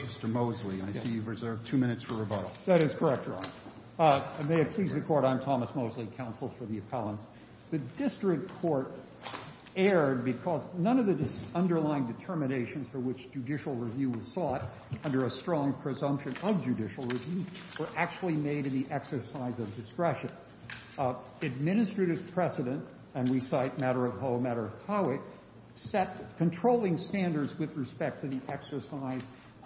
Mr. Mosley, I see you've reserved two minutes for rebuttal. That is correct, Your Honor. And may it please the Court, I'm Thomas Mosley, counsel for the appellants. The district court erred because none of the underlying determinations for which judicial review was sought under a strong presumption of judicial review were actually made in the exercise of discretion. Administrative precedent, and we cite Matter of Ho, Matter of Howick, set controlling standards with respect to the exercise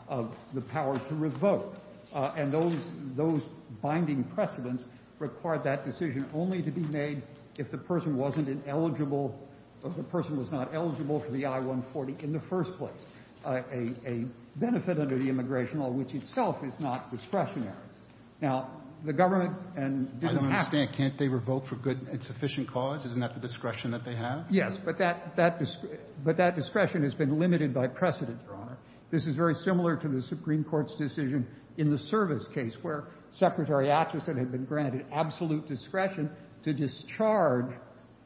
of the power to revoke. And those binding precedents required that decision only to be made if the person wasn't eligible, if the person was not eligible for the I-140 in the first place, a benefit under the immigration law which itself is not discretionary. Now, the government didn't have to— I don't understand. Can't they revoke for good and sufficient cause? Isn't that the discretion that they have? Yes, but that discretion has been limited by precedent, Your Honor. This is very similar to the Supreme Court's decision in the service case where Secretary Acheson had been granted absolute discretion to discharge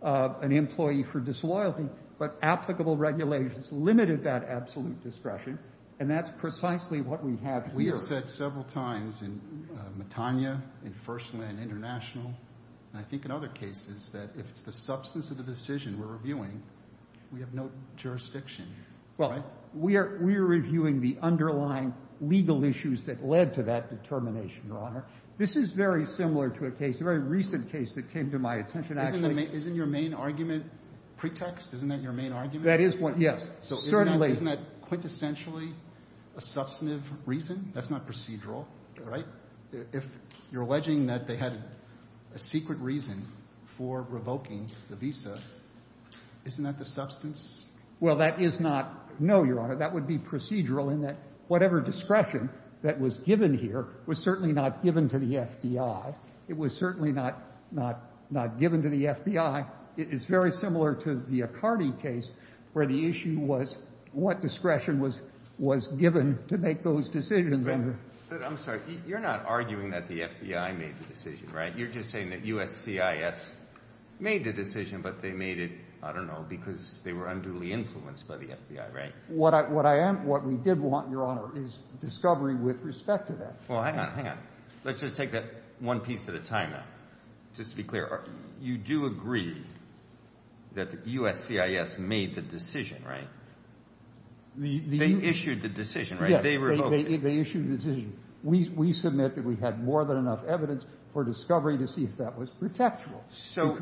an employee for disloyalty, but applicable regulations limited that absolute discretion. And that's precisely what we have here. We have said several times in Metania, in First Land International, and I think in other cases that if it's the substance of the decision we're reviewing, we have no jurisdiction. Well, we are reviewing the underlying legal issues that led to that determination, Your Honor. This is very similar to a case, a very recent case that came to my attention. Isn't your main argument pretext? Isn't that your main argument? That is one, yes. So isn't that quintessentially a substantive reason? That's not procedural, right? If you're alleging that they had a secret reason for revoking the visa, isn't that the substance? Well, that is not no, Your Honor. That would be procedural in that whatever discretion that was given here was certainly not given to the FBI. It was certainly not given to the FBI. It is very similar to the Accardi case where the issue was what discretion was given to make those decisions. I'm sorry. You're not arguing that the FBI made the decision, right? You're just saying that USCIS made the decision, but they made it, I don't know, because they were unduly influenced by the FBI, right? What I am – what we did want, Your Honor, is discovery with respect to that. Well, hang on, hang on. Let's just take that one piece at a time now, just to be clear. You do agree that USCIS made the decision, right? They issued the decision, right? Yes. They revoked it. They issued the decision. We submit that we had more than enough evidence for discovery to see if that was pretextual. So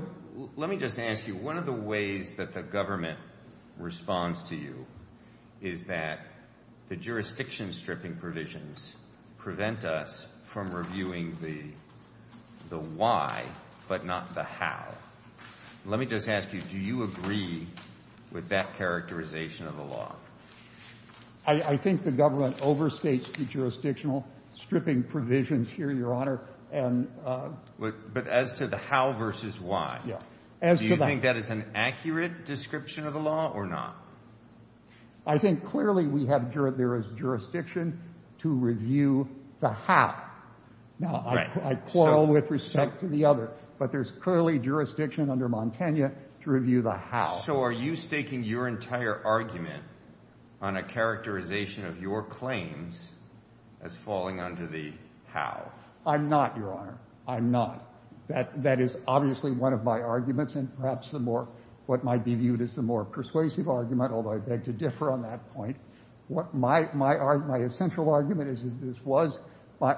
let me just ask you, one of the ways that the government responds to you is that the jurisdiction-stripping provisions prevent us from reviewing the why but not the how. Let me just ask you, do you agree with that characterization of the law? I think the government overstates the jurisdictional-stripping provisions here, Your Honor. But as to the how versus why, do you think that is an accurate description of the law or not? I think clearly we have jurisdiction to review the how. Now, I quarrel with respect to the other, but there's clearly jurisdiction under Montana to review the how. So are you staking your entire argument on a characterization of your claims as falling under the how? I'm not, Your Honor. I'm not. That is obviously one of my arguments and perhaps what might be viewed as the more persuasive argument, although I beg to differ on that point. My essential argument is that this was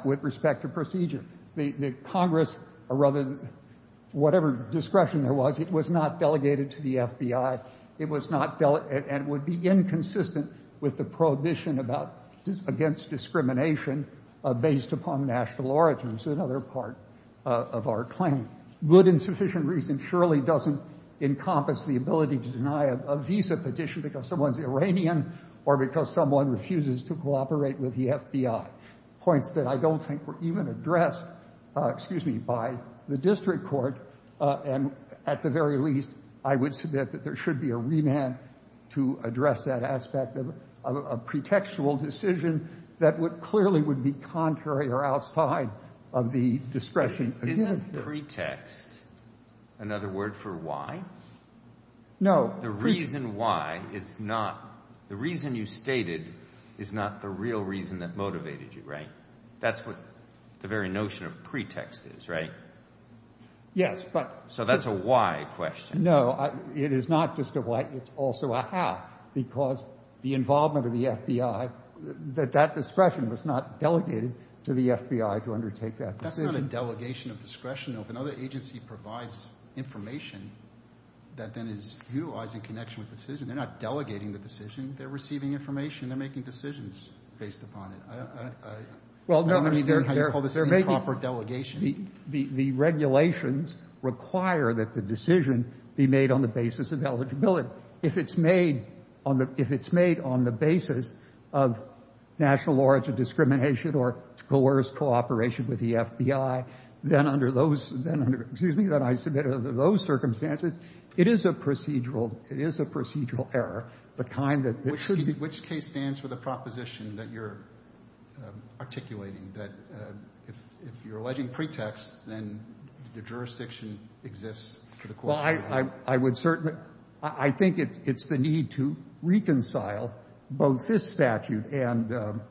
with respect to procedure. The Congress or rather whatever discretion there was, it was not delegated to the FBI. It was not delegated and would be inconsistent with the prohibition against discrimination based upon national origins, another part of our claim. Good and sufficient reason surely doesn't encompass the ability to deny a visa petition because someone's Iranian that I don't think were even addressed, excuse me, by the district court. And at the very least, I would submit that there should be a remand to address that aspect of a pretextual decision that would clearly would be contrary or outside of the discretion. Isn't pretext another word for why? No. The reason why is not the reason you stated is not the real reason that motivated you, right? That's what the very notion of pretext is, right? Yes, but. So that's a why question. No, it is not just a why. It's also a how because the involvement of the FBI, that discretion was not delegated to the FBI to undertake that decision. It's not a delegation of discretion. If another agency provides information, that then is utilizing connection with the decision. They're not delegating the decision. They're receiving information. They're making decisions based upon it. I don't understand how you call this improper delegation. The regulations require that the decision be made on the basis of eligibility. If it's made on the basis of national origin discrimination or coerced cooperation with the FBI, then under those circumstances, it is a procedural error. Which case stands for the proposition that you're articulating, that if you're alleging pretext, then the jurisdiction exists for the court? Well, I think it's the need to reconcile both this statute and the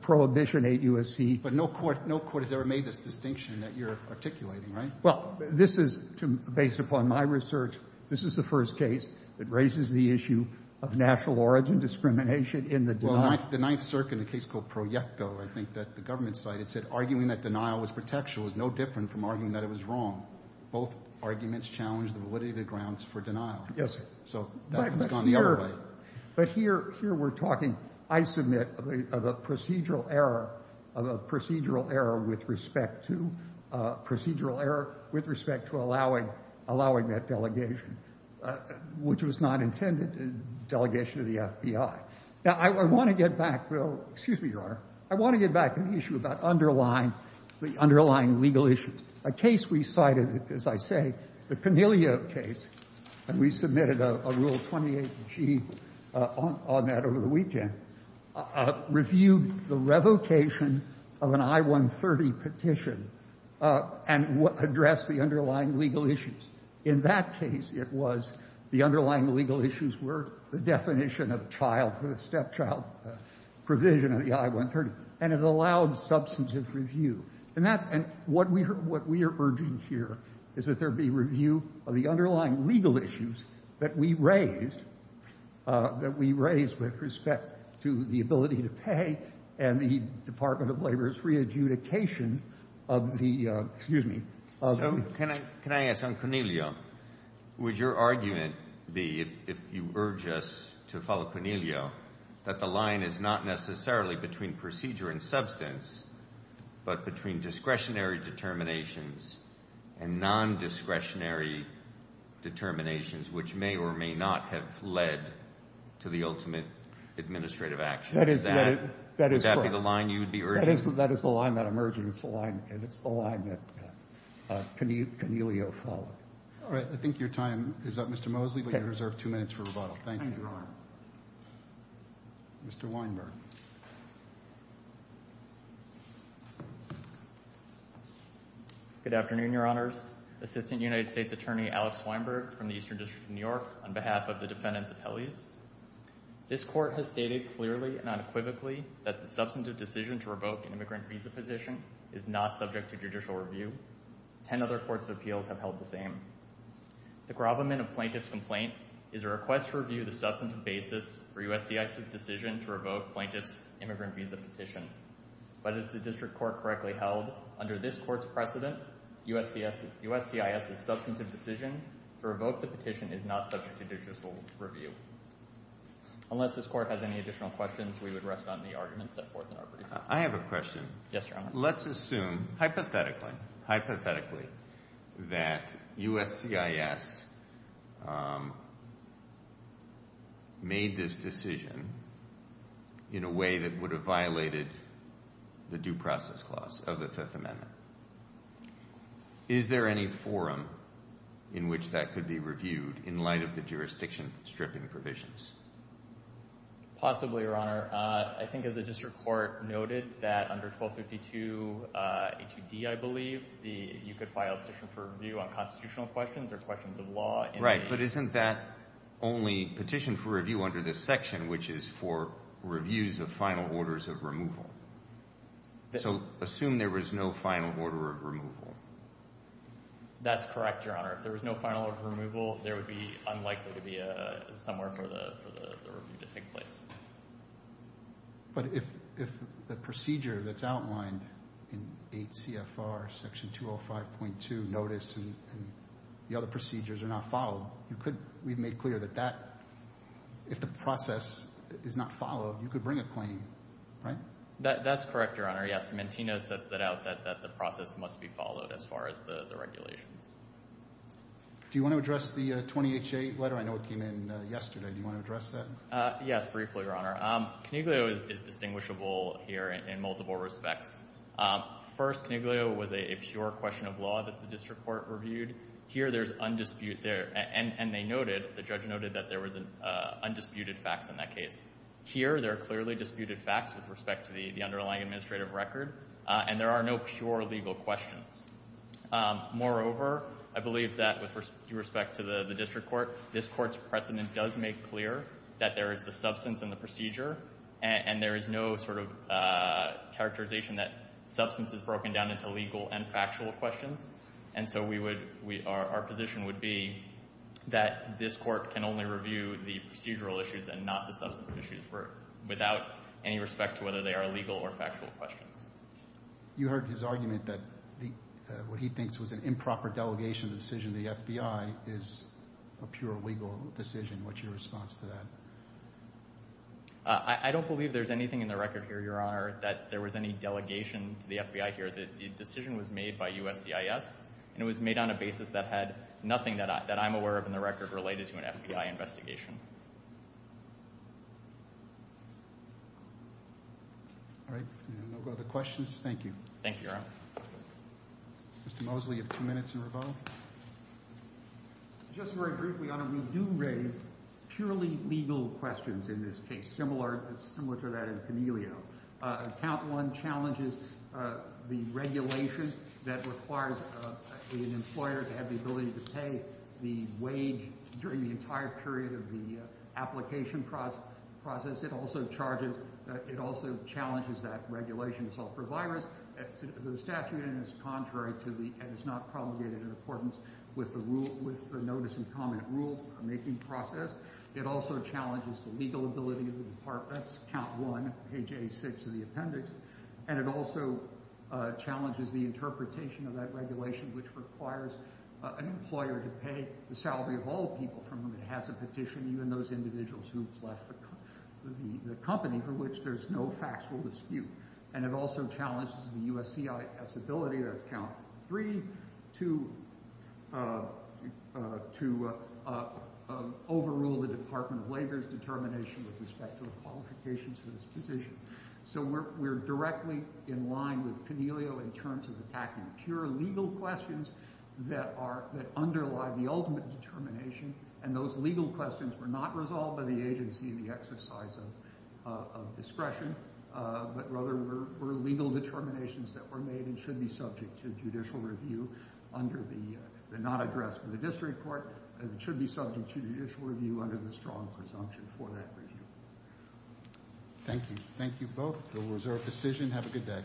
Prohibition 8 U.S.C. But no court has ever made this distinction that you're articulating, right? Well, based upon my research, this is the first case that raises the issue of national origin discrimination in the denial. The Ninth Circuit in a case called Proyecto, I think, that the government cited, said arguing that denial was pretextual is no different from arguing that it was wrong. Both arguments challenge the validity of the grounds for denial. Yes, sir. So that has gone the other way. But here we're talking, I submit, of a procedural error with respect to allowing that delegation, which was not intended delegation of the FBI. Now, I want to get back, though. Excuse me, Your Honor. I want to get back to the issue about underlying legal issues. A case we cited, as I say, the Cornelia case, and we submitted a Rule 28G on that over the weekend, reviewed the revocation of an I-130 petition and addressed the underlying legal issues. In that case, it was the underlying legal issues were the definition of child for the stepchild provision of the I-130, and it allowed substantive review. And that's — and what we are urging here is that there be review of the underlying legal issues that we raised, that we raised with respect to the ability to pay and the Department of Labor's re-adjudication of the — excuse me. So can I ask, on Cornelia, would your argument be, if you urge us to follow Cornelia, that the line is not necessarily between procedure and substance, but between discretionary determinations and nondiscretionary determinations, which may or may not have led to the ultimate administrative action? That is — Would that be the line you would be urging? That is the line that I'm urging. It's the line that Cornelia followed. All right. I think your time is up, Mr. Mosley, but you're reserved two minutes for rebuttal. Thank you, Your Honor. Mr. Weinberg. Good afternoon, Your Honors. Assistant United States Attorney Alex Weinberg from the Eastern District of New York on behalf of the defendants' appellees. This court has stated clearly and unequivocally that the substantive decision to revoke an immigrant visa petition is not subject to judicial review. Ten other courts of appeals have held the same. The gravamen of plaintiff's complaint is a request to review the substantive basis for USCIS's decision to revoke plaintiff's immigrant visa petition. But as the district court correctly held, under this court's precedent, USCIS's substantive decision to revoke the petition is not subject to judicial review. Unless this court has any additional questions, we would rest on the arguments set forth in our brief. I have a question. Yes, Your Honor. Let's assume hypothetically, hypothetically, that USCIS made this decision in a way that would have violated the due process clause of the Fifth Amendment. Is there any forum in which that could be reviewed in light of the jurisdiction stripping provisions? Possibly, Your Honor. I think as the district court noted that under 1252A2D, I believe, you could file a petition for review on constitutional questions or questions of law. Right. But isn't that only petition for review under this section, which is for reviews of final orders of removal? So assume there was no final order of removal. That's correct, Your Honor. If there was no final order of removal, there would be unlikely to be somewhere for the review to take place. But if the procedure that's outlined in 8 CFR Section 205.2 notice and the other procedures are not followed, we've made clear that if the process is not followed, you could bring a claim, right? That's correct, Your Honor. Yes, Mentino sets it out that the process must be followed as far as the regulations. Do you want to address the 20HA letter? I know it came in yesterday. Do you want to address that? Yes, briefly, Your Honor. Coniglio is distinguishable here in multiple respects. First, Coniglio was a pure question of law that the district court reviewed. Here, there's undisputed there. And they noted, the judge noted, that there was undisputed facts in that case. Here, there are clearly disputed facts with respect to the underlying administrative record. And there are no pure legal questions. Moreover, I believe that with respect to the district court, this court's precedent does make clear that there is the substance in the procedure. And there is no sort of characterization that substance is broken down into legal and factual questions. And so our position would be that this court can only review the procedural issues and not the substance issues without any respect to whether they are legal or factual questions. You heard his argument that what he thinks was an improper delegation of the decision of the FBI is a pure legal decision. What's your response to that? I don't believe there's anything in the record here, Your Honor, that there was any delegation to the FBI here. The decision was made by USCIS. And it was made on a basis that had nothing that I'm aware of in the record related to an FBI investigation. All right. No other questions. Thank you. Thank you, Your Honor. Mr. Mosley, you have two minutes in revolve. Just very briefly, Your Honor, we do raise purely legal questions in this case, similar to that in Camellio. Count 1 challenges the regulation that requires an employer to have the ability to pay the wage during the entire period of the application process. It also charges—it also challenges that regulation to solve for virus. The statute is contrary to the—and it's not promulgated in accordance with the rule—with the notice and comment rule-making process. It also challenges the legal ability of the department. That's Count 1, page 86 of the appendix. And it also challenges the interpretation of that regulation, which requires an employer to pay the salary of all people from whom it has a petition, even those individuals who've left the company, for which there's no factual dispute. And it also challenges the USCIS ability—that's Count 3—to overrule the Department of Labor's determination with respect to the qualifications for this position. So we're directly in line with Camellio in terms of attacking pure legal questions that underlie the ultimate determination, and those legal questions were not resolved by the agency in the exercise of discretion, but rather were legal determinations that were made and should be subject to judicial review under the—they're not addressed by the district court. It should be subject to judicial review under the strong presumption for that review. Thank you. Thank you both. That was our decision. Have a good day.